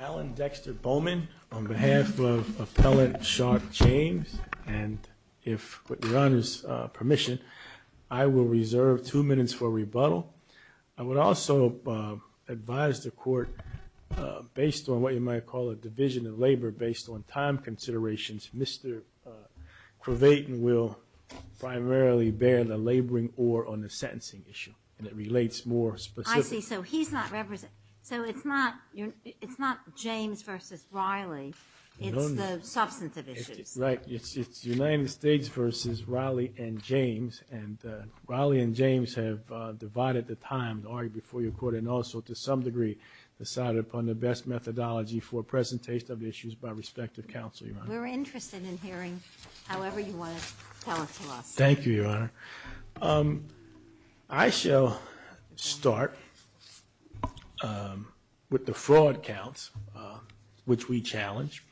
Alan Dexter Bowman, on behalf of Appellant Shark James, and with your Honor's permission, I will reserve two minutes for rebuttal. I would also advise the Court, based on what you might call a division of labor based on time considerations, Mr. Cravatan will primarily bear the laboring or on the sentencing issue and it relates more specifically. I see. So he's not representing... So it's not James vs. Riley, it's the substantive issues. Right. It's United States vs. Riley and James and Riley and James have divided the time to argue before your Court and also, to some degree, decided upon the best methodology for presentation of issues by respective counsel, Your Honor. We're interested in hearing however you want to tell it to us. Thank you, Your Honor. I shall start with the fraud counts, which we challenge.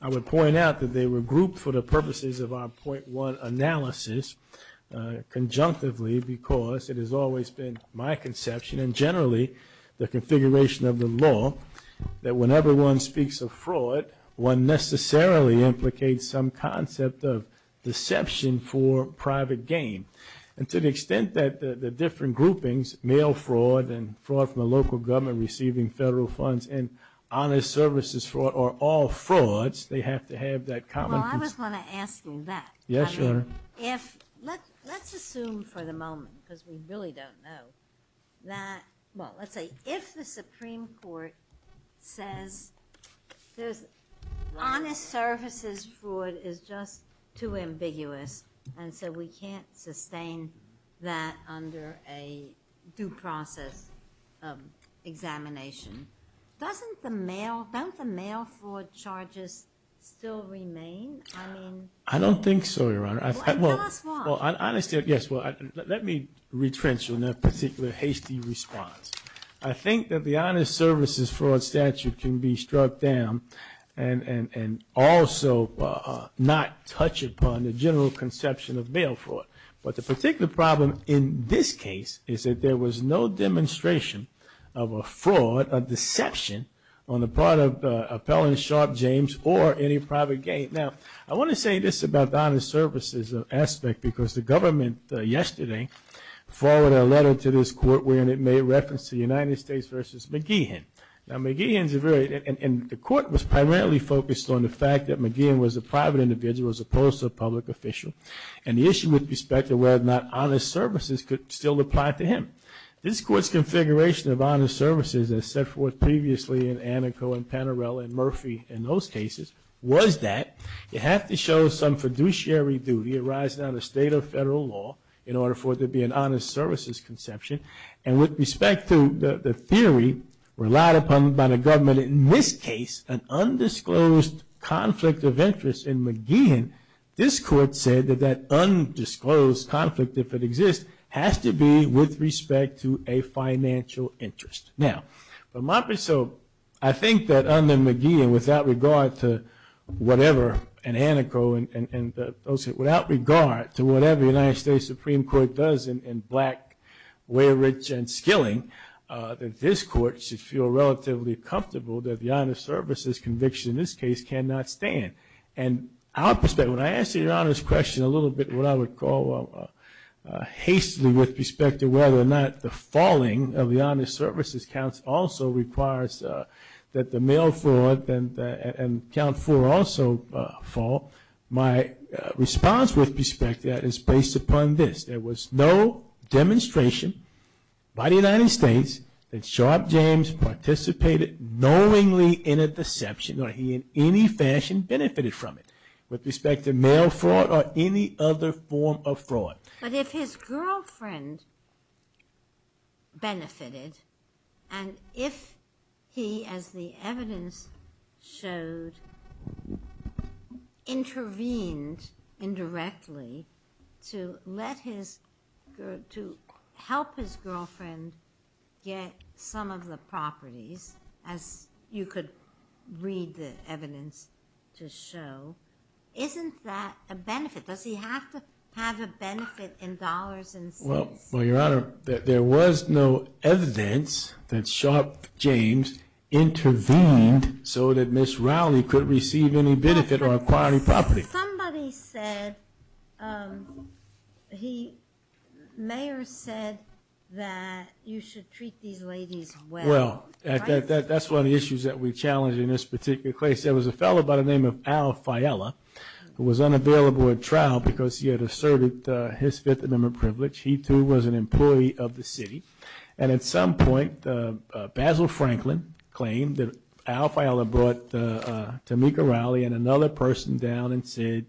I would point out that they were grouped for the purposes of our point one analysis, conjunctively because it has always been my conception and generally the configuration of the law that whenever one speaks of fraud, one necessarily implicates some concept of deception for private gain. And to the extent that the different groupings, mail fraud and fraud from the local government receiving federal funds and honest services fraud are all frauds, they have to have that common... Well, I was going to ask you that. Yes, Your Honor. I mean, if... Let's assume for the moment, because we really don't know, that, well, let's say if the Supreme Court can't sustain that under a due process examination, doesn't the mail fraud charges still remain? I mean... I don't think so, Your Honor. Well, and tell us why. Well, honestly, yes. Well, let me retrench on that particular hasty response. I think that the honest services fraud statute can be struck down and also not touch upon the general conception of mail fraud. But the particular problem in this case is that there was no demonstration of a fraud, a deception on the part of Appellant Sharp James or any private gain. Now, I want to say this about the honest services aspect because the government yesterday forwarded a letter to this court wherein it made reference to the United States versus McGeehan. Now, McGeehan's a very... And the court was primarily focused on the fact that McGeehan was a private individual as opposed to a public official. And the issue with respect to whether or not honest services could still apply to him. This court's configuration of honest services, as set forth previously in Anico and Panarello and Murphy in those cases, was that you have to show some fiduciary duty arising out of state or federal law in order for there to be an honest services conception. And with respect to the theory relied upon by the government in this case, an undisclosed conflict of interest in McGeehan, this court said that that undisclosed conflict, if it exists, has to be with respect to a financial interest. Now, I think that under McGeehan, without regard to whatever, in Anico and those... Without regard to whatever the United States Supreme Court does in black, way rich and skilling, that this court should feel relatively comfortable that the honest services conviction in this case cannot stand. And our perspective, when I answer your honest question a little bit what I would call hastily with respect to whether or not the falling of the honest services counts also requires that the mail fraud and count four also fall, my response with respect to that is based upon this. There was no demonstration by the United States that Sharp James participated knowingly in that deception or he in any fashion benefited from it. With respect to mail fraud or any other form of fraud. But if his girlfriend benefited and if he, as the evidence showed, intervened indirectly to help his girlfriend get some of the properties, as you could read the evidence to show, isn't that a benefit? Does he have to have a benefit in dollars and cents? Well, your Honor, there was no evidence that Sharp James intervened so that Ms. Rowley could receive any benefit or acquire any property. Somebody said, the mayor said that you should treat these ladies well. Well, that's one of the issues that we challenge in this particular case. There was a fellow by the name of Al Fiella who was unavailable at trial because he had asserted his Fifth Amendment privilege. He too was an employee of the city. And at some point, Basil Franklin claimed that Al Fiella brought Tamika Rowley and another person down and said,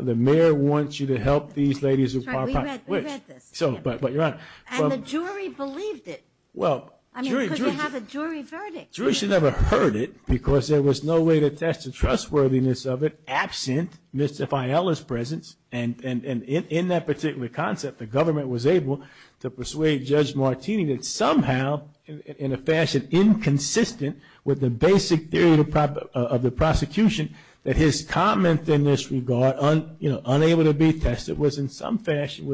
the mayor wants you to help these ladies acquire property. We read this. But your Honor. And the jury believed it. Well, jury. I mean, because we have a jury verdict. The jury should never have heard it because there was no way to test the trustworthiness of it absent Mr. Fiella's presence. And in that particular concept, the government was able to persuade Judge Martini that somehow, in a fashion inconsistent with the basic theory of the prosecution, that his comment in this regard, unable to be tested, was in some fashion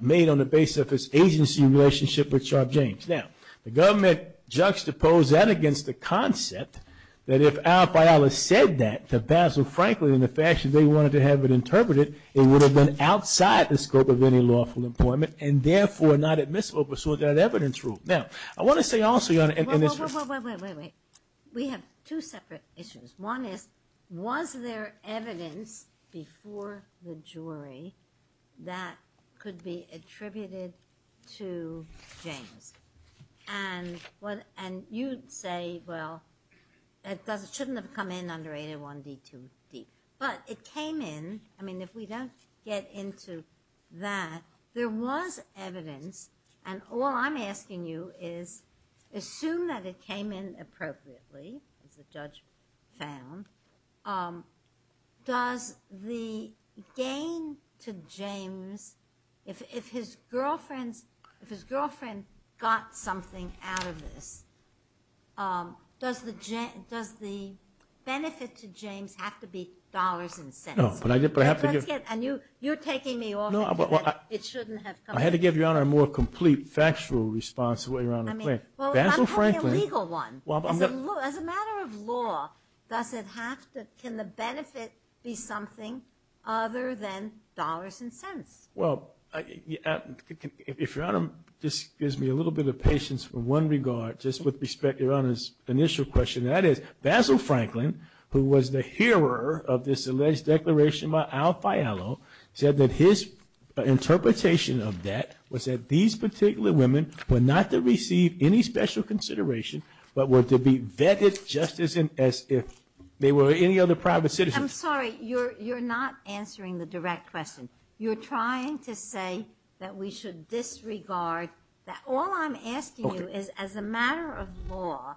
made on the basis of his agency relationship with Sharp James. Now, the government juxtaposed that against the concept that if Al Fiella said that to Basil Franklin in the fashion they wanted to have it interpreted, it would have been true. Now, I want to say also, Your Honor, in this- Well, wait, wait, wait, wait. We have two separate issues. One is, was there evidence before the jury that could be attributed to James? And you'd say, well, it shouldn't have come in under 801-D2-D. But it came in, I mean, if we don't get into that, there was evidence. And all I'm asking you is, assume that it came in appropriately, as the judge found. Does the gain to James, if his girlfriend got something out of this, does the benefit to James have to be dollars and cents? No. But I have to give- And you're taking me off- No, but- It shouldn't have come- I had to give Your Honor a more complete, factual response to what Your Honor is saying. I mean- Basil Franklin- Well, I'm talking a legal one. As a matter of law, does it have to- can the benefit be something other than dollars and cents? Well, if Your Honor just gives me a little bit of patience for one regard, just with respect to Your Honor's initial question, that is, Basil Franklin, who was the hearer of this alleged declaration by Al Fialo, said that his interpretation of that was that these particular women were not to receive any special consideration, but were to be vetted just as if they were any other private citizens. I'm sorry, you're not answering the direct question. You're trying to say that we should disregard- that all I'm asking you is, as a matter of law,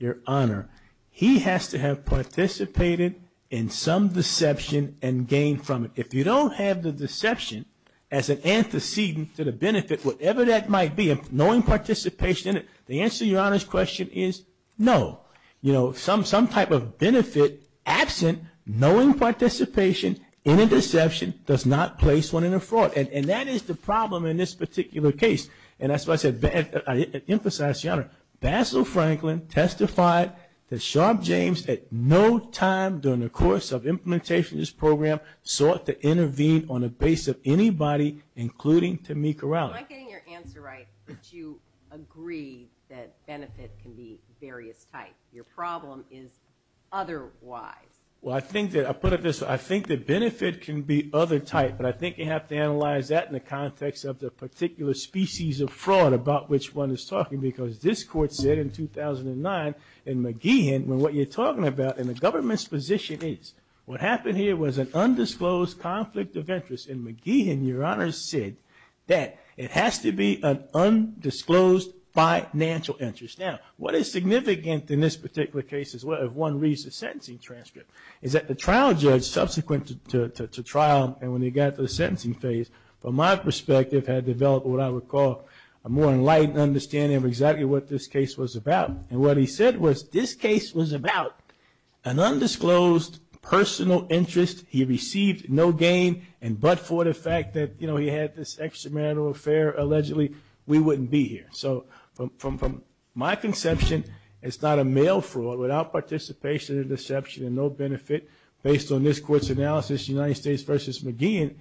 Your Honor, he has to have participated in some deception and gained from it. If you don't have the deception as an antecedent to the benefit, whatever that might be, knowing participation in it, the answer to Your Honor's question is no. You know, some type of benefit absent, knowing participation in a deception, does not place one in a fraud. And that is the problem in this particular case. And that's why I said- I emphasize, Your Honor, Basil Franklin testified that Sharp James at no time during the course of implementation of this program sought to intervene on the base of anybody, including Tamika Rowley. Am I getting your answer right, that you agree that benefit can be various types? Your problem is otherwise. Well, I think that- I put it this way. I think that benefit can be other types, but I think you have to analyze that in the context of the particular species of fraud about which one is talking, because this Court said in 2009 in McGeehan, when what you're talking about in the government's position is, what happened here was an undisclosed conflict of interest. And McGeehan, Your Honor, said that it has to be an undisclosed financial interest. Now, what is significant in this particular case, as well, if one reads the sentencing transcript, is that the trial judge subsequent to trial, and when he got to the sentencing phase, from my perspective, had developed what I would call a more enlightened understanding of exactly what this case was about. And what he said was, this case was about an undisclosed personal interest. He received no gain, and but for the fact that he had this extramarital affair, allegedly, we wouldn't be here. So from my conception, it's not a male fraud without participation and deception and no benefit based on this Court's analysis, United States v. McGeehan,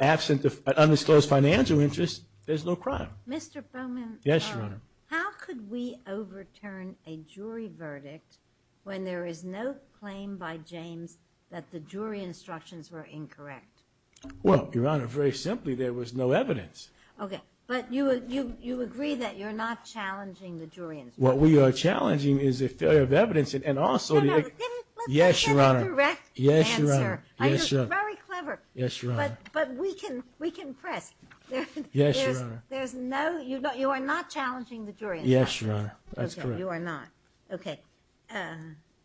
absent an undisclosed financial interest, there's no crime. Mr. Bowman. Yes, Your Honor. How could we overturn a jury verdict when there is no claim by James that the jury instructions were incorrect? Well, Your Honor, very simply, there was no evidence. Okay. But you agree that you're not challenging the jury instructions? What we are challenging is a failure of evidence and also the- No, no. Let's give him a direct answer. Yes, Your Honor. Yes, Your Honor. Yes, Your Honor. But we can press. Yes, Your Honor. There's no, you are not challenging the jury instructions? Yes, Your Honor. That's correct. Okay. You are not. Okay. All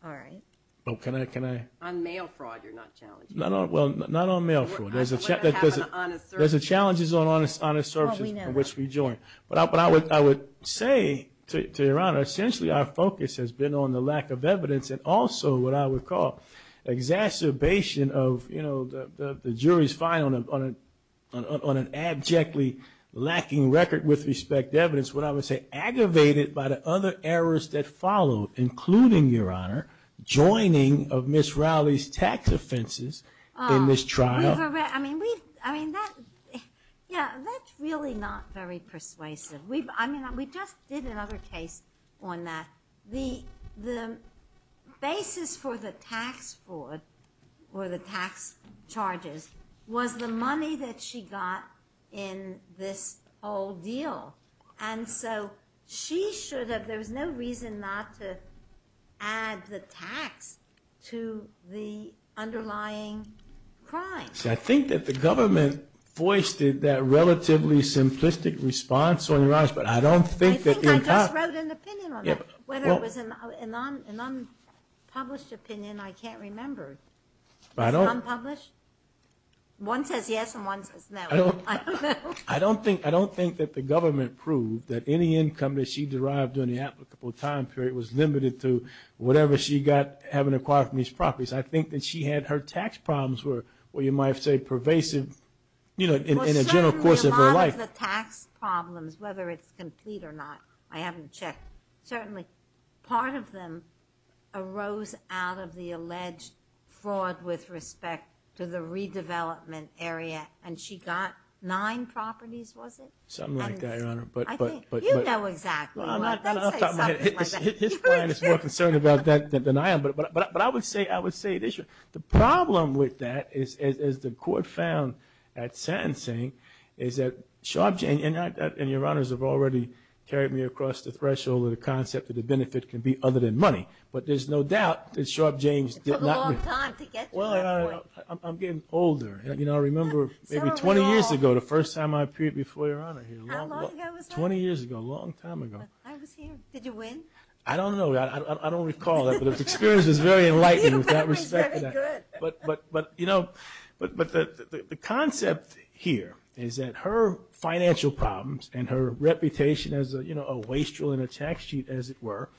right. Well, can I, can I- On male fraud, you're not challenging. Not on, well, not on male fraud. There's a- What would happen to honest services? There's a challenge on honest services- Well, we know that. From which we join. But I would say to Your Honor, essentially, our focus has been on the lack of evidence and also what I would call exacerbation of, you know, the jury's finding on an abjectly lacking record with respect to evidence, what I would say aggravated by the other errors that followed, including, Your Honor, joining of Ms. Rowley's tax offenses in this trial. We've, I mean, we've, I mean, that, yeah, that's really not very persuasive. We've, I mean, we just did another case on that. The basis for the tax fraud or the tax charges was the money that she got in this whole deal. And so, she should have, there was no reason not to add the tax to the underlying crime. See, I think that the government voiced that relatively simplistic response on your eyes, but I don't think that- I think I just wrote an opinion on that. Whether it was an unpublished opinion, I can't remember. It's unpublished? One says yes and one says no. I don't think that the government proved that any income that she derived during the applicable time period was limited to whatever she got having acquired from these properties. I think that she had her tax problems were, what you might say, pervasive, you know, in a general course of her life. Well, certainly a lot of the tax problems, whether it's complete or not, I haven't checked, certainly part of them arose out of the alleged fraud with respect to the redevelopment area. And she got nine properties, was it? Something like that, Your Honor. You know exactly what I'm saying. His plan is more concerned about that than I am. But I would say, the problem with that is, as the court found at sentencing, is that Sharpe James, and Your Honors have already carried me across the threshold of the concept that the benefit can be other than money. But there's no doubt that Sharpe James did not win. It took a long time to get to that point. Well, I'm getting older. You know, I remember maybe 20 years ago, the first time I appeared before Your Honor here. How long ago was that? 20 years ago, a long time ago. I was here, did you win? I don't know, I don't recall that. But the experience was very enlightening with that respect. But, you know, the concept here is that her financial problems and her reputation as a wastrel in a tax sheet, as it were,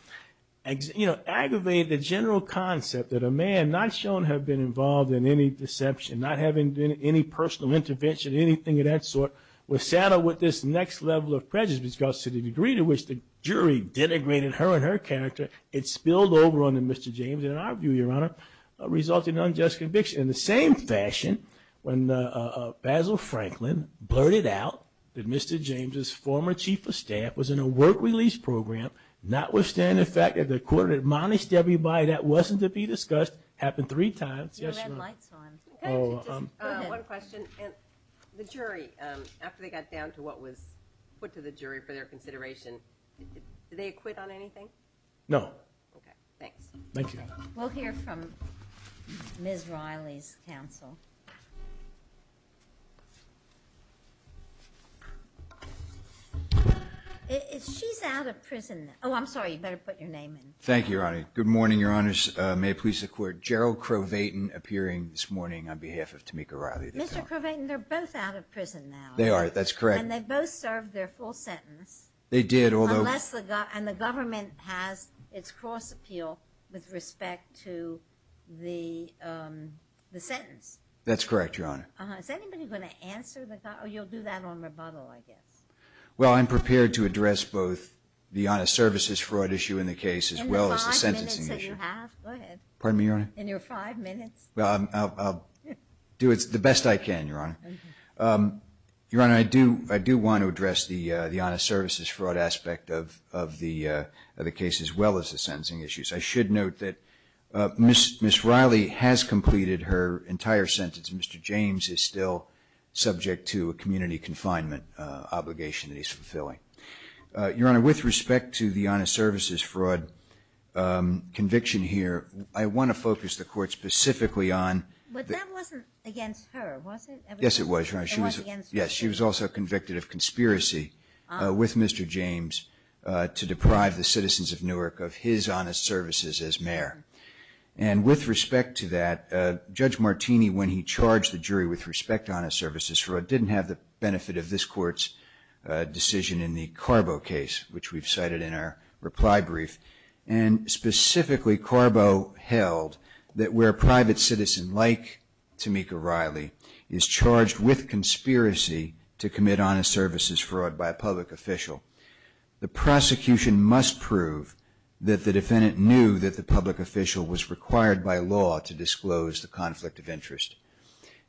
aggravated the general concept that a man not shown to have been involved in any deception, not having done any personal intervention, anything of that sort, was saddled with this next level of prejudice, because to the degree to which the jury denigrated her and her character, it spilled over onto Mr. James. And in our view, Your Honor, resulted in unjust conviction. In the same fashion, when Basil Franklin blurted out that Mr. James' former chief of staff was in a work release program, notwithstanding the fact that the court admonished everybody that wasn't to be discussed, happened three times. You had lights on. One question. The jury, after they got down to what was put to the jury for their consideration, did they acquit on anything? No. Okay, thanks. Thank you, Your Honor. We'll hear from Ms. Riley's counsel. She's out of prison now. Oh, I'm sorry. You better put your name in. Thank you, Your Honor. Good morning, Your Honors. May it please the Court. Gerald Crow-Vayton appearing this morning on behalf of Tamika Riley. Mr. Crow-Vayton, they're both out of prison now. They are. That's correct. And they both served their full sentence. They did, although... And the government has its cross appeal with respect to the sentence. That's correct, Your Honor. Is anybody going to answer the... Oh, you'll do that on rebuttal, I guess. Well, I'm prepared to address both the honest services fraud issue in the case as well as the sentencing issue. In the five minutes that you have. Go ahead. Pardon me, Your Honor? In your five minutes. Well, I'll do the best I can, Your Honor. Your Honor, I do want to address the honest services fraud aspect of the case as well as the sentencing issues. I should note that Ms. Riley has completed her entire sentence, and Mr. James is still subject to a community confinement obligation that he's fulfilling. Your Honor, with respect to the honest services fraud conviction here, I want to focus the Court specifically on... But that wasn't against her, was it? Yes, it was, Your Honor. It wasn't against her. Yes, she was also convicted of conspiracy with Mr. James to deprive the citizens of Newark of his honest services as mayor. With respect to that, Judge Martini, when he charged the jury with respect to honest services fraud, didn't have the benefit of this Court's decision in the Carbo case, which we've cited in our reply brief. Specifically, Carbo held that where a private citizen like Tamika Riley is charged with conspiracy to commit honest services fraud by a public official, the prosecution must prove that the defendant knew that the public official was required by law to disclose the conflict of interest.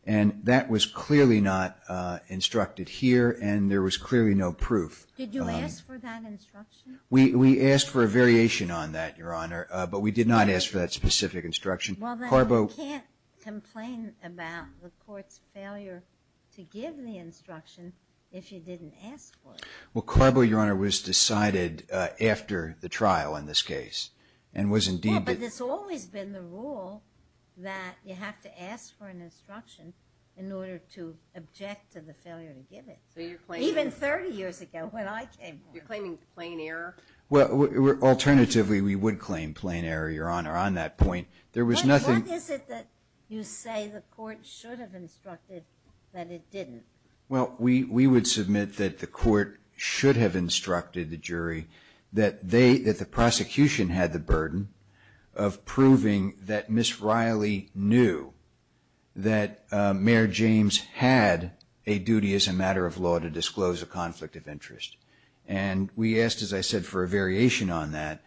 And that was clearly not instructed here, and there was clearly no proof. Did you ask for that instruction? We asked for a variation on that, Your Honor, but we did not ask for that specific instruction. Well, then you can't complain about the Court's failure to give the instruction if you didn't ask for it. Well, Carbo, Your Honor, was decided after the trial in this case and was indeed— Well, but it's always been the rule that you have to ask for an instruction in order to object to the failure to give it. So you're claiming— Even 30 years ago when I came forward. You're claiming plain error? Alternatively, we would claim plain error, Your Honor, on that point. There was nothing— What is it that you say the Court should have instructed that it didn't? Well, we would submit that the Court should have instructed the jury that the prosecution had the burden of proving that Ms. Riley knew that Mayor James had a duty as a matter of law to disclose a conflict of interest. And we asked, as I said, for a variation on that,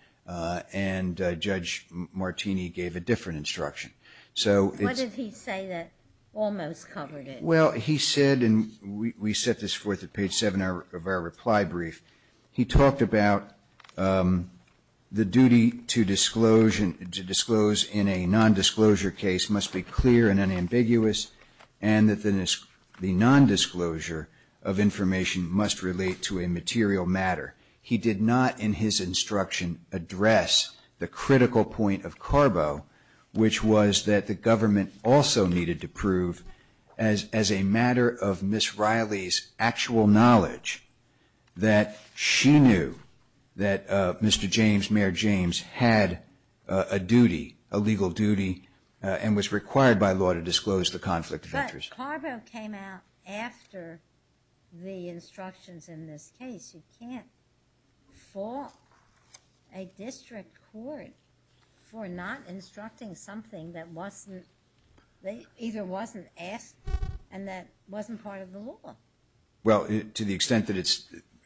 and Judge Martini gave a different instruction. So it's— What did he say that almost covered it? Well, he said, and we set this forth at page 7 of our reply brief, he talked about the duty to disclose in a nondisclosure case must be clear and unambiguous, and that the nondisclosure of information must relate to a material matter. He did not, in his instruction, address the critical point of Carbo, which was that the government also needed to prove, as a matter of Ms. Riley's actual knowledge, that she knew that Mr. James, Mayor James, had a duty, a legal duty, and was required by law to disclose the conflict of interest. But Carbo came out after the instructions in this case. You can't fault a district court for not instructing something that either wasn't asked and that wasn't part of the law. Well, to the extent that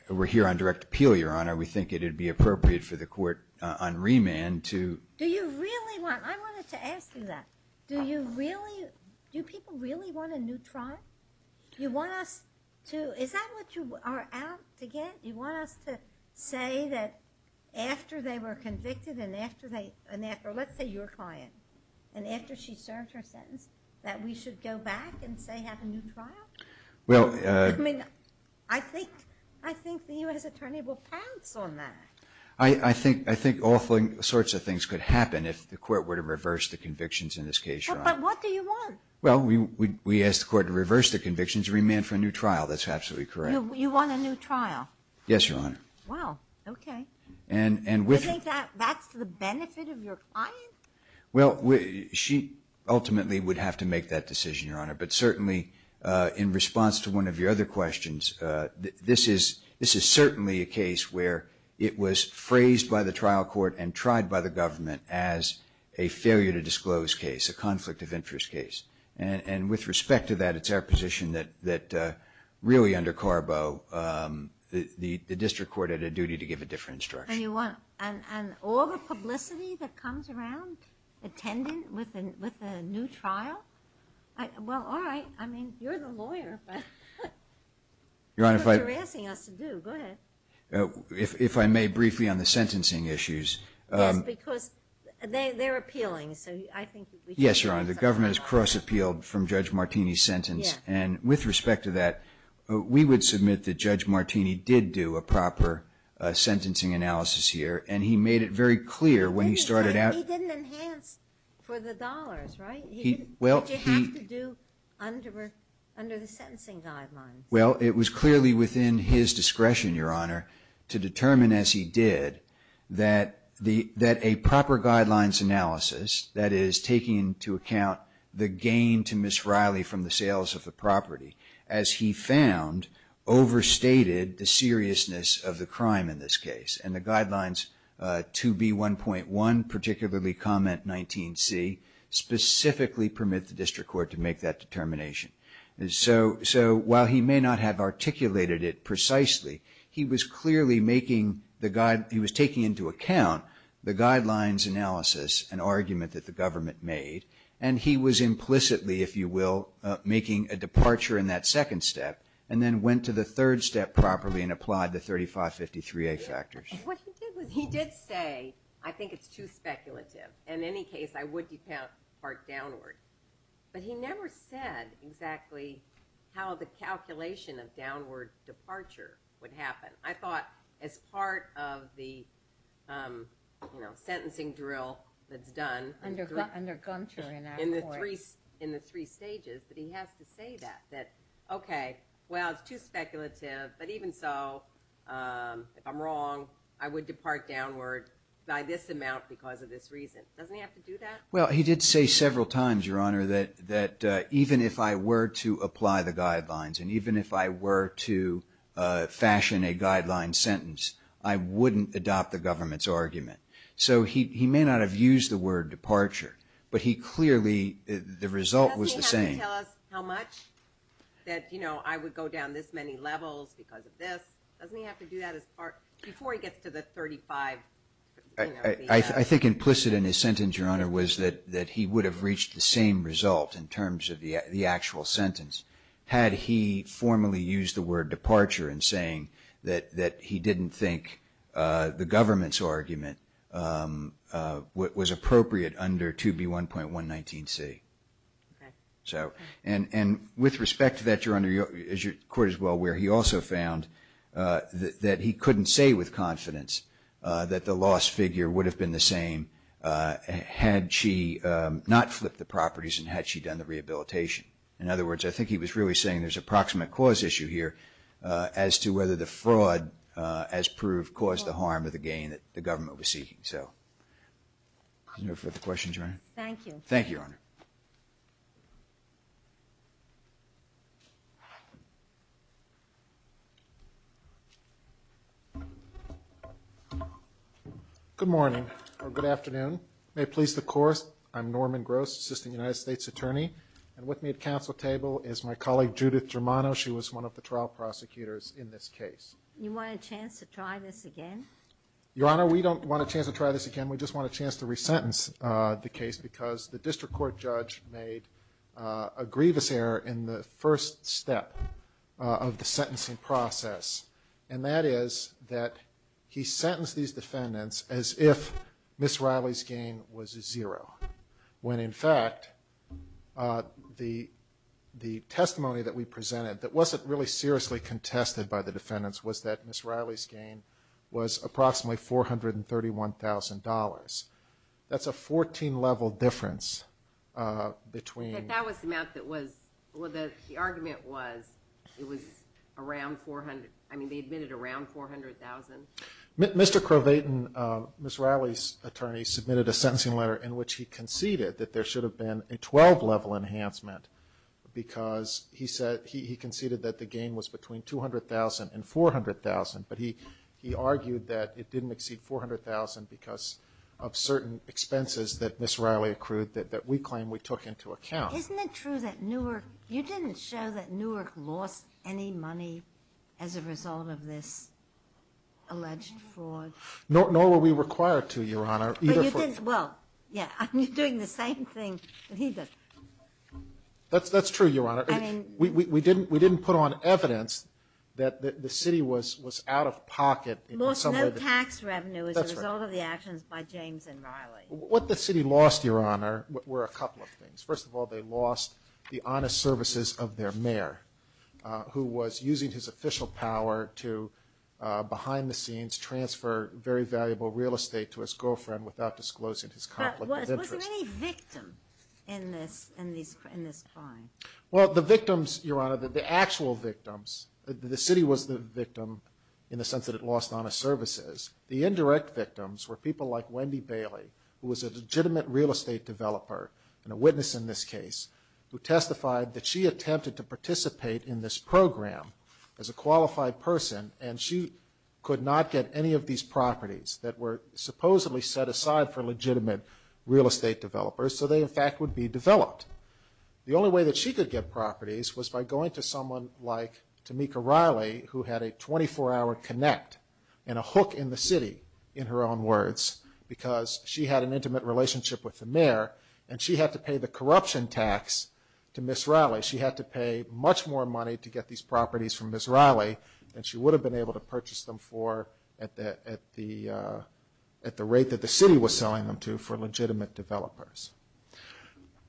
we're here on direct appeal, Your Honor, we think it would be appropriate for the court on remand to— Do you really want—I wanted to ask you that. Do you really—do people really want a neutron? You want us to—is that what you are out to get? You want us to say that after they were convicted and after they— or let's say your client, and after she served her sentence, that we should go back and, say, have a new trial? Well— I mean, I think the U.S. Attorney will pounce on that. I think all sorts of things could happen if the court were to reverse the convictions in this case, Your Honor. But what do you want? Well, we ask the court to reverse the convictions, remand for a new trial. That's absolutely correct. You want a new trial? Yes, Your Honor. Wow. Okay. And with— You think that's the benefit of your client? Well, she ultimately would have to make that decision, Your Honor. But certainly, in response to one of your other questions, this is certainly a case where it was phrased by the trial court and tried by the government as a failure to disclose case, a conflict of interest case. And with respect to that, it's our position that really under Carbo, the district court had a duty to give a different instruction. And you want— And all the publicity that comes around attending with a new trial? Well, all right. I mean, you're the lawyer, but— Your Honor, if I— That's what you're asking us to do. Go ahead. If I may briefly on the sentencing issues— Yes, because they're appealing. So I think we should— Yes, Your Honor. The government has cross-appealed from Judge Martini's sentence. Yes. And with respect to that, we would submit that Judge Martini did do a proper sentencing analysis here. And he made it very clear when he started out— He didn't enhance for the dollars, right? He— Well, he— Did you have to do under the sentencing guidelines? Well, it was clearly within his discretion, Your Honor, to determine, as he did, that a proper guidelines analysis, that is taking into account the gain to Ms. Riley from the sales of the property, as he found overstated the seriousness of the crime in this case. And the guidelines 2B1.1, particularly Comment 19C, specifically permit the district court to make that determination. So while he may not have articulated it precisely, he was clearly making the guide— He was taking into account the guidelines analysis, an argument that the government made, and he was implicitly, if you will, making a departure in that second step, and then went to the third step properly and applied the 3553A factors. What he did was he did say, I think it's too speculative. In any case, I would depart downward. But he never said exactly how the calculation of downward departure would happen. I thought as part of the, you know, sentencing drill that's done— Under Gunther in that court. —in the three stages, that he has to say that. That, okay, well, it's too speculative, but even so, if I'm wrong, I would depart downward by this amount because of this reason. Doesn't he have to do that? Well, he did say several times, Your Honor, that even if I were to apply the guidelines and even if I were to fashion a guideline sentence, I wouldn't adopt the government's argument. So he may not have used the word departure, but he clearly—the result was the same. Doesn't he have to tell us how much? That, you know, I would go down this many levels because of this. Doesn't he have to do that as part—before he gets to the 35— I think implicit in his sentence, Your Honor, was that he would have reached the same result in terms of the actual sentence had he formally used the word departure in saying that he didn't think the government's argument was appropriate under 2B1.119C. Okay. And with respect to that, Your Honor, as your court is well aware, he also found that he couldn't say with confidence that the loss figure would have been the same had she not flipped the properties and had she done the rehabilitation. In other words, I think he was really saying there's an approximate cause issue here as to whether the fraud, as proved, caused the harm or the gain that the government was seeking. Any further questions, Your Honor? Thank you. Thank you, Your Honor. Good morning, or good afternoon. May it please the Court, I'm Norman Gross, Assistant United States Attorney, and with me at the Council table is my colleague Judith Germano. She was one of the trial prosecutors in this case. You want a chance to try this again? Your Honor, we don't want a chance to try this again. We just want a chance to resentence the case because the district court judge made a grievous error in the first step of the sentencing process, and that is that he sentenced these defendants as if Ms. Riley's gain was zero, when, in fact, the testimony that we presented that wasn't really seriously contested by the defendants was that Ms. Riley's gain was approximately $431,000. That's a 14-level difference between In fact, that was the amount that was, well, the argument was it was around $400,000. I mean, they admitted around $400,000. Mr. Krovatin, Ms. Riley's attorney, submitted a sentencing letter in which he conceded that there should have been a 12-level enhancement because he conceded that the gain was between $200,000 and $400,000, but he argued that it didn't exceed $400,000 because of certain expenses that Ms. Riley accrued that we claim we took into account. Isn't it true that Newark, you didn't show that Newark lost any money as a result of this alleged fraud? Nor were we required to, Your Honor. Well, yeah, you're doing the same thing that he did. That's true, Your Honor. We didn't put on evidence that the city was out of pocket. Lost no tax revenue as a result of the actions by James and Riley. What the city lost, Your Honor, were a couple of things. First of all, they lost the honest services of their mayor, who was using his official power to behind the scenes transfer very valuable real estate to his girlfriend without disclosing his conflict of interest. But was there any victim in this crime? Well, the victims, Your Honor, the actual victims, the city was the victim in the sense that it lost honest services. The indirect victims were people like Wendy Bailey, who was a legitimate real estate developer and a witness in this case, who testified that she attempted to participate in this program as a qualified person and she could not get any of these properties that were supposedly set aside for legitimate real estate developers so they, in fact, would be developed. The only way that she could get properties was by going to someone like Tamika Riley, who had a 24-hour connect and a hook in the city, in her own words, because she had an intimate relationship with the mayor and she had to pay the corruption tax to Ms. Riley. She had to pay much more money to get these properties from Ms. Riley than she would have been able to purchase them for at the rate that the city was selling them to for legitimate developers.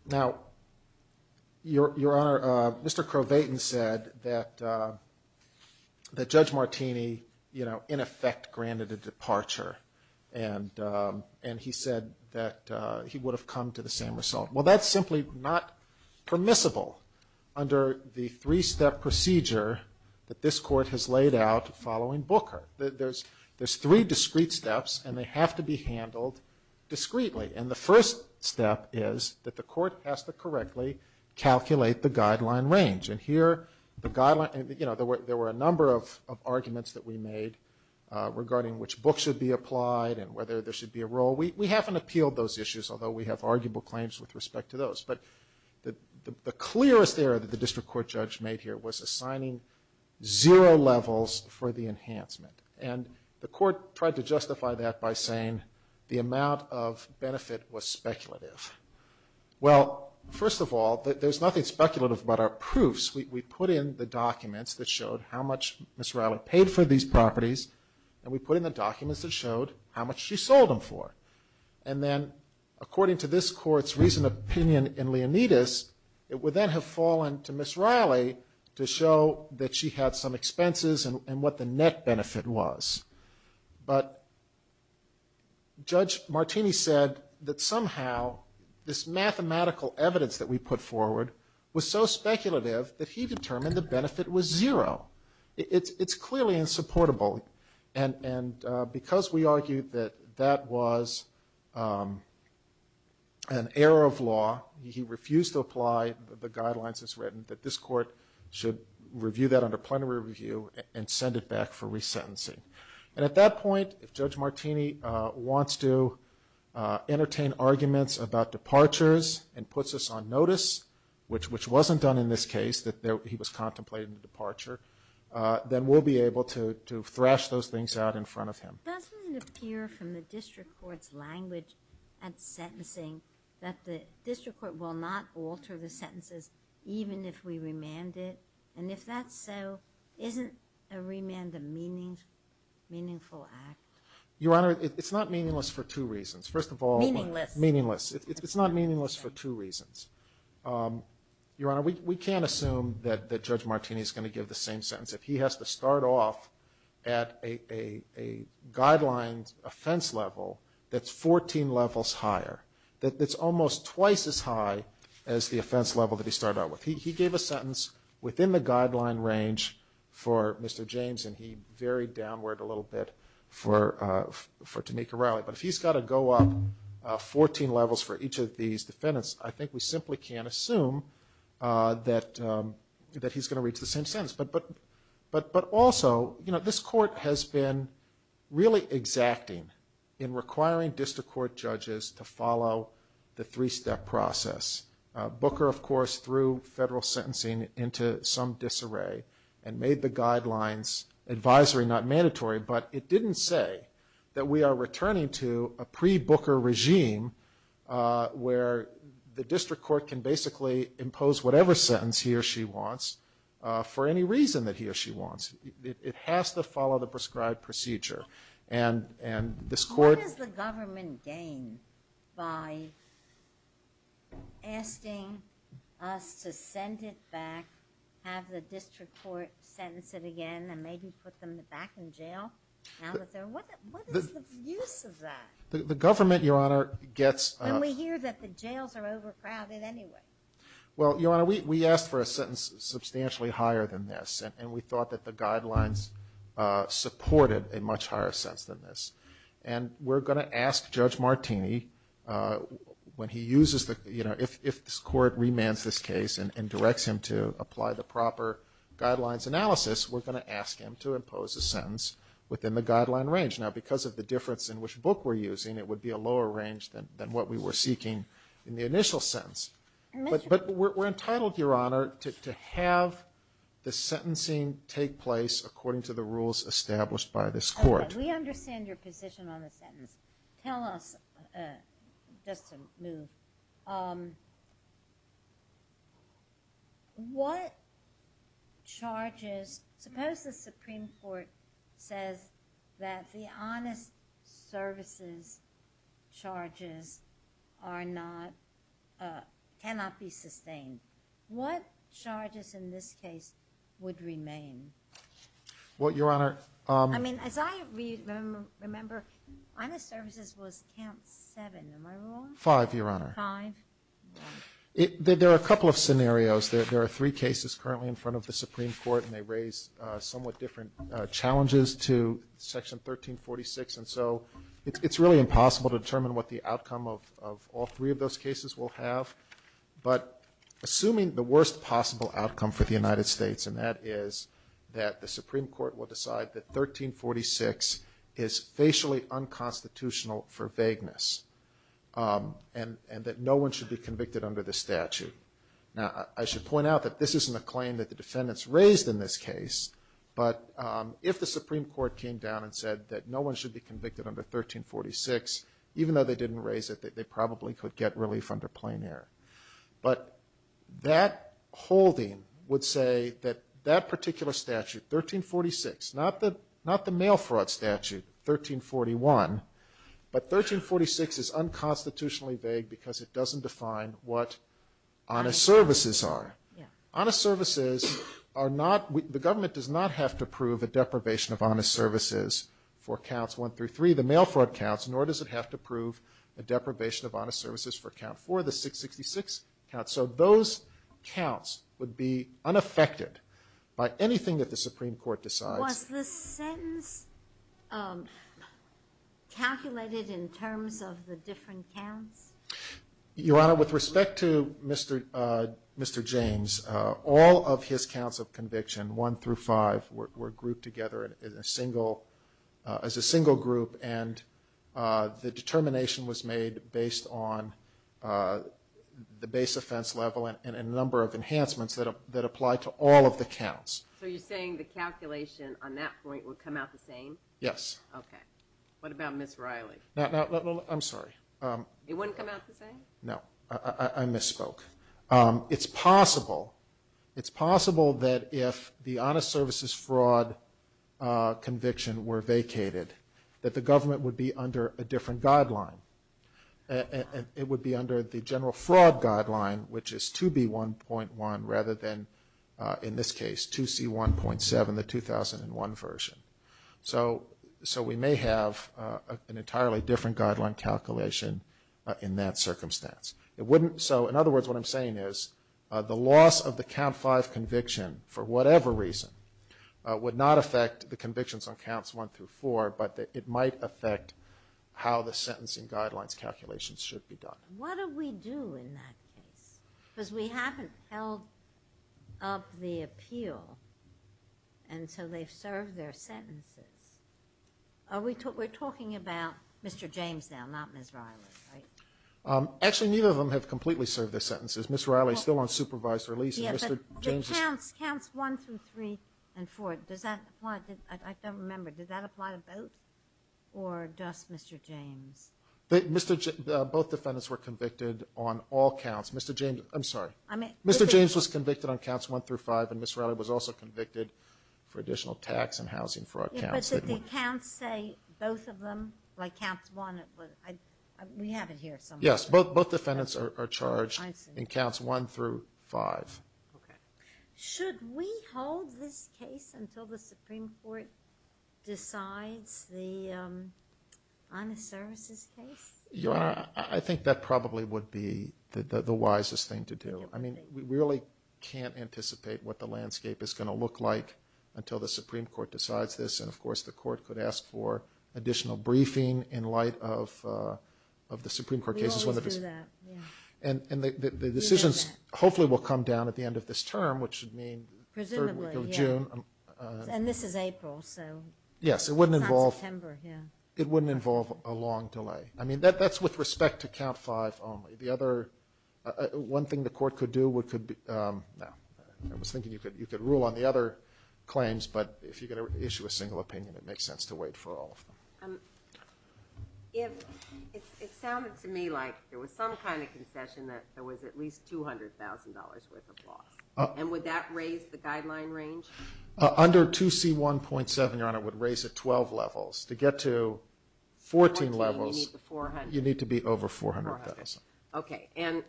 Now, Your Honor, Mr. Crow-Vayton said that Judge Martini, you know, in effect granted a departure and he said that he would have come to the same result. Well, that's simply not permissible under the three-step procedure that this court has laid out following Booker. There's three discrete steps and they have to be handled discreetly. And the first step is that the court has to correctly calculate the guideline range. And here the guideline, you know, there were a number of arguments that we made regarding which books should be applied and whether there should be a roll. We haven't appealed those issues, although we have arguable claims with respect to those. But the clearest error that the district court judge made here was assigning zero levels for the enhancement. And the court tried to justify that by saying the amount of benefit was speculative. Well, first of all, there's nothing speculative about our proofs. We put in the documents that showed how much Ms. Riley paid for these properties and we put in the documents that showed how much she sold them for. And then according to this court's recent opinion in Leonidas, it would then have fallen to Ms. Riley to show that she had some expenses and what the net benefit was. But Judge Martini said that somehow this mathematical evidence that we put forward was so speculative that he determined the benefit was zero. It's clearly insupportable. And because we argued that that was an error of law, he refused to apply the guidelines as written, that this court should review that under plenary review and send it back for resentencing. And at that point, if Judge Martini wants to entertain arguments about departures and puts us on notice, which wasn't done in this case, that he was contemplating a departure, then we'll be able to thrash those things out in front of him. Doesn't it appear from the district court's language and sentencing that the district court will not alter the sentences even if we remand it? And if that's so, isn't a remand a meaningful act? Your Honor, it's not meaningless for two reasons. First of all... Meaningless. Meaningless. It's not meaningless for two reasons. Your Honor, we can't assume that Judge Martini is going to give the same sentence. If he has to start off at a guidelines offense level that's 14 levels higher, that's almost twice as high as the offense level that he started out with. He gave a sentence within the guideline range for Mr. James and he varied downward a little bit for Tanika Riley. But if he's got to go up 14 levels for each of these defendants, I think we simply can't assume that he's going to reach the same sentence. But also, this court has been really exacting in requiring district court judges to follow the three-step process. Booker, of course, threw federal sentencing into some disarray and made the guidelines advisory, not mandatory. But it didn't say that we are returning to a pre-Booker regime where the district court can basically impose whatever sentence he or she wants for any reason that he or she wants. It has to follow the prescribed procedure. What does the government gain by asking us to send it back, have the district court sentence it again, and maybe put them back in jail? What is the use of that? The government, Your Honor, gets... And we hear that the jails are overcrowded anyway. Well, Your Honor, we asked for a sentence substantially higher than this and we thought that the guidelines supported a much higher sentence than this. And we're going to ask Judge Martini when he uses the, you know, if this court remands this case and directs him to apply the proper guidelines analysis, we're going to ask him to impose a sentence within the guideline range. Now, because of the difference in which book we're using, it would be a lower range than what we were seeking in the initial sentence. But we're entitled, Your Honor, to have the sentencing take place according to the rules established by this court. Okay. We understand your position on the sentence. Tell us, just to move, what charges, suppose the Supreme Court says that the honest services charges are not, cannot be sustained. What charges in this case would remain? Well, Your Honor... I mean, as I remember, honest services was count seven. Am I wrong? Five, Your Honor. Five. There are a couple of scenarios. There are three cases currently in front of the Supreme Court, and they raise somewhat different challenges to Section 1346. And so it's really impossible to determine what the outcome of all three of those cases will have. But assuming the worst possible outcome for the United States, and that is that the Supreme Court will decide that 1346 is facially unconstitutional for vagueness, and that no one should be convicted under the statute. Now, I should point out that this isn't a claim that the defendants raised in this case, but if the Supreme Court came down and said that no one should be convicted under 1346, even though they didn't raise it, they probably could get relief under plain air. But that holding would say that that particular statute, 1346, not the mail fraud statute, 1341, but 1346 is unconstitutionally vague because it doesn't define what honest services are. Honest services are not, the government does not have to prove a deprivation of honest services for counts one through three, the mail fraud counts, nor does it have to prove a deprivation of honest services for count four, the 666 counts. So those counts would be unaffected by anything that the Supreme Court decides. Was the sentence calculated in terms of the different counts? Your Honor, with respect to Mr. James, all of his counts of conviction, one through five, were grouped together as a single group, and the determination was made based on the base offense level and a number of enhancements that apply to all of the counts. So you're saying the calculation on that point would come out the same? Yes. Okay. What about Ms. Riley? I'm sorry. It wouldn't come out the same? No. I misspoke. It's possible that if the honest services fraud conviction were vacated, that the government would be under a different guideline. It would be under the general fraud guideline, which is 2B1.1 rather than, in this case, 2C1.7, the 2001 version. So we may have an entirely different guideline calculation in that circumstance. So, in other words, what I'm saying is the loss of the count five conviction, for whatever reason, would not affect the convictions on counts one through four, but it might affect how the sentencing guidelines calculations should be done. What do we do in that case? Because we haven't held up the appeal, and so they've served their sentences. We're talking about Mr. James now, not Ms. Riley, right? Actually, neither of them have completely served their sentences. Ms. Riley is still on supervised release. Yeah, but counts one through three and four, does that apply? I don't remember. Does that apply to both or just Mr. James? Both defendants were convicted on all counts. Mr. James, I'm sorry. Mr. James was convicted on counts one through five, and Ms. Riley was also convicted for additional tax and housing fraud counts. Yeah, but did the counts say both of them? Like counts one, we have it here somewhere. Yes, both defendants are charged in counts one through five. Okay. Should we hold this case until the Supreme Court decides the honest services case? Your Honor, I think that probably would be the wisest thing to do. I mean, we really can't anticipate what the landscape is going to look like until the Supreme Court decides this. And, of course, the Court could ask for additional briefing in light of the Supreme Court cases. We always do that, yeah. And the decisions hopefully will come down at the end of this term, which should mean the third week of June. Presumably, yeah. And this is April, so not September, yeah. Yes, it wouldn't involve a long delay. I mean, that's with respect to count five only. One thing the Court could do would be – no, I was thinking you could rule on the other claims, but if you're going to issue a single opinion, it makes sense to wait for all of them. It sounded to me like there was some kind of concession that there was at least $200,000 worth of loss. And would that raise the guideline range? Under 2C1.7, Your Honor, it would raise it 12 levels. To get to 14 levels, you need to be over $400,000. Okay. And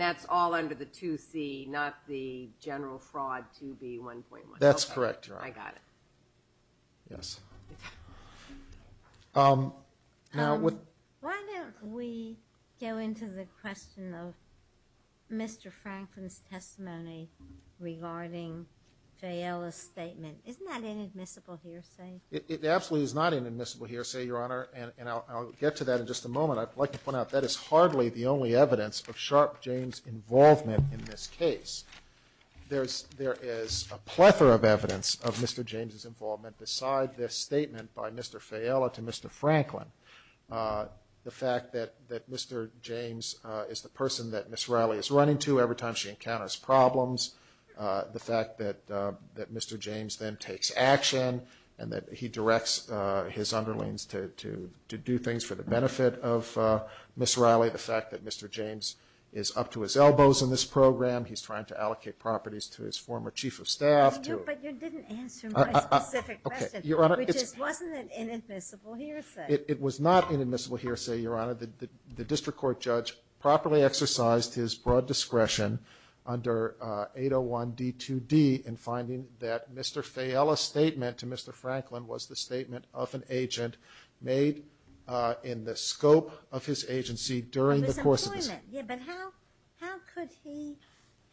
that's all under the 2C, not the general fraud 2B1.1. That's correct, Your Honor. I got it. Yes. regarding Fayella's statement. Isn't that an admissible hearsay? It absolutely is not an admissible hearsay, Your Honor, and I'll get to that in just a moment. I'd like to point out that is hardly the only evidence of Sharp James' involvement in this case. There is a plethora of evidence of Mr. James' involvement beside this statement by Mr. Fayella to Mr. Franklin. The fact that Mr. James is the person that Ms. Riley is running to every time she encounters problems. The fact that Mr. James then takes action and that he directs his underlings to do things for the benefit of Ms. Riley. The fact that Mr. James is up to his elbows in this program. He's trying to allocate properties to his former chief of staff. But you didn't answer my specific question, which is wasn't it an admissible hearsay? It was not an admissible hearsay, Your Honor. The district court judge properly exercised his broad discretion under 801D2D in finding that Mr. Fayella's statement to Mr. Franklin was the statement of an agent made in the scope of his agency during the course of this case. But how could he,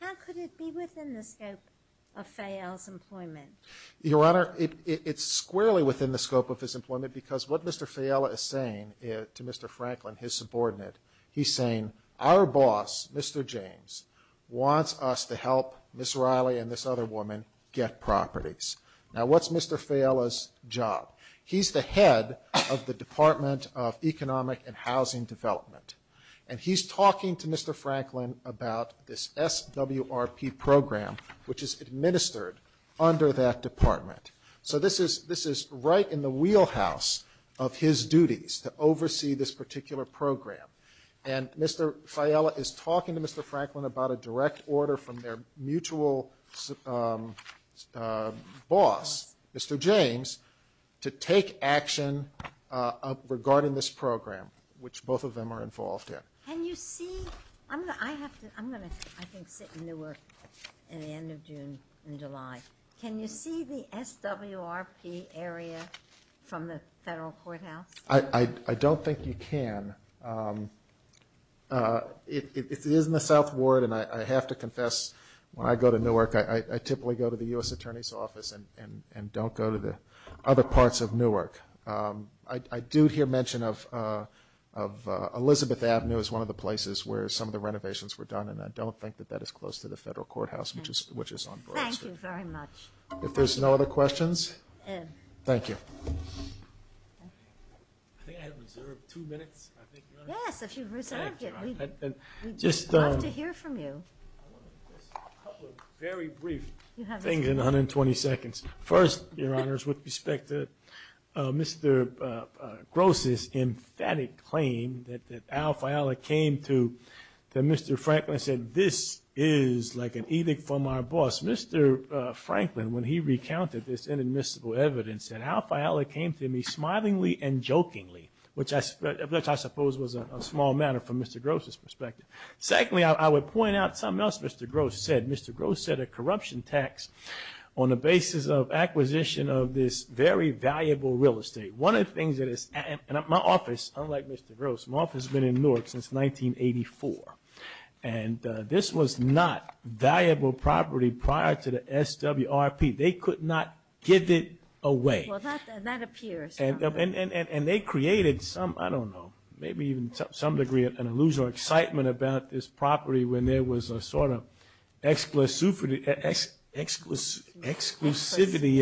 how could it be within the scope of Fayella's employment? Your Honor, it's squarely within the scope of his employment because what Mr. Fayella is saying to Mr. Franklin, his subordinate, he's saying our boss, Mr. James, wants us to help Ms. Riley and this other woman get properties. Now what's Mr. Fayella's job? He's the head of the Department of Economic and Housing Development. And he's talking to Mr. Franklin about this SWRP program which is administered under that department. So this is right in the wheelhouse of his duties to oversee this particular program. And Mr. Fayella is talking to Mr. Franklin about a direct order from their mutual boss, Mr. James, to take action regarding this program, which both of them are involved in. Can you see? I'm going to, I have to, I'm going to, I think, sit in Newark at the end of June and July. Can you see the SWRP area from the Federal Courthouse? I don't think you can. It is in the South Ward, and I have to confess, when I go to Newark, I typically go to the U.S. Attorney's Office and don't go to the other parts of Newark. I do hear mention of Elizabeth Avenue as one of the places where some of the renovations were done, and I don't think that that is close to the Federal Courthouse, which is on Brooks. Thank you very much. If there's no other questions, thank you. I think I have reserved two minutes, I think, Your Honor. Yes, if you've reserved it, we'd love to hear from you. A couple of very brief things in 120 seconds. First, Your Honors, with respect to Mr. Gross's emphatic claim that Al Fayella came to Mr. Franklin and said, this is like an edict from our boss, Mr. Franklin, when he recounted this inadmissible evidence, said Al Fayella came to me smilingly and jokingly, which I suppose was a small matter from Mr. Gross's perspective. Secondly, I would point out something else Mr. Gross said. Mr. Gross said a corruption tax on the basis of acquisition of this very valuable real estate. One of the things that is at my office, unlike Mr. Gross, my office has been in Newark since 1984, and this was not valuable property prior to the SWRP. They could not give it away. Well, that appears. And they created some, I don't know, maybe even to some degree an illusory excitement about this property when there was a sort of exclusivity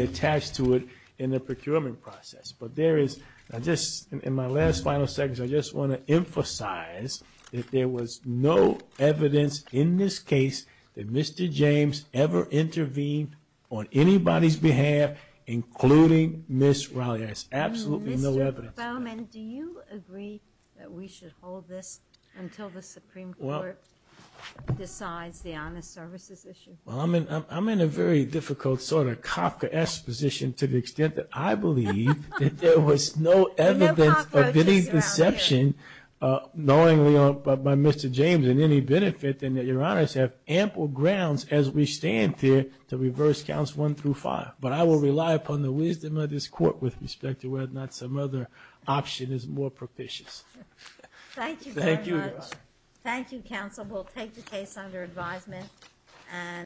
attached to it in the procurement process. But there is, in my last final seconds, I just want to emphasize that there was no evidence in this case that Mr. James ever intervened on anybody's behalf, including Ms. Riley. There's absolutely no evidence. Mr. Bowman, do you agree that we should hold this until the Supreme Court decides the honest services issue? Well, I'm in a very difficult sort of Kafkaesque position to the extent that I believe that there was no evidence of any deception knowingly by Mr. James in any benefit, and that Your Honors have ample grounds as we stand here to reverse counts one through five. But I will rely upon the wisdom of this Court with respect to whether or not some other option is more propitious. Thank you very much. Thank you, Your Honor. Thank you, counsel. We'll take the case under advisement.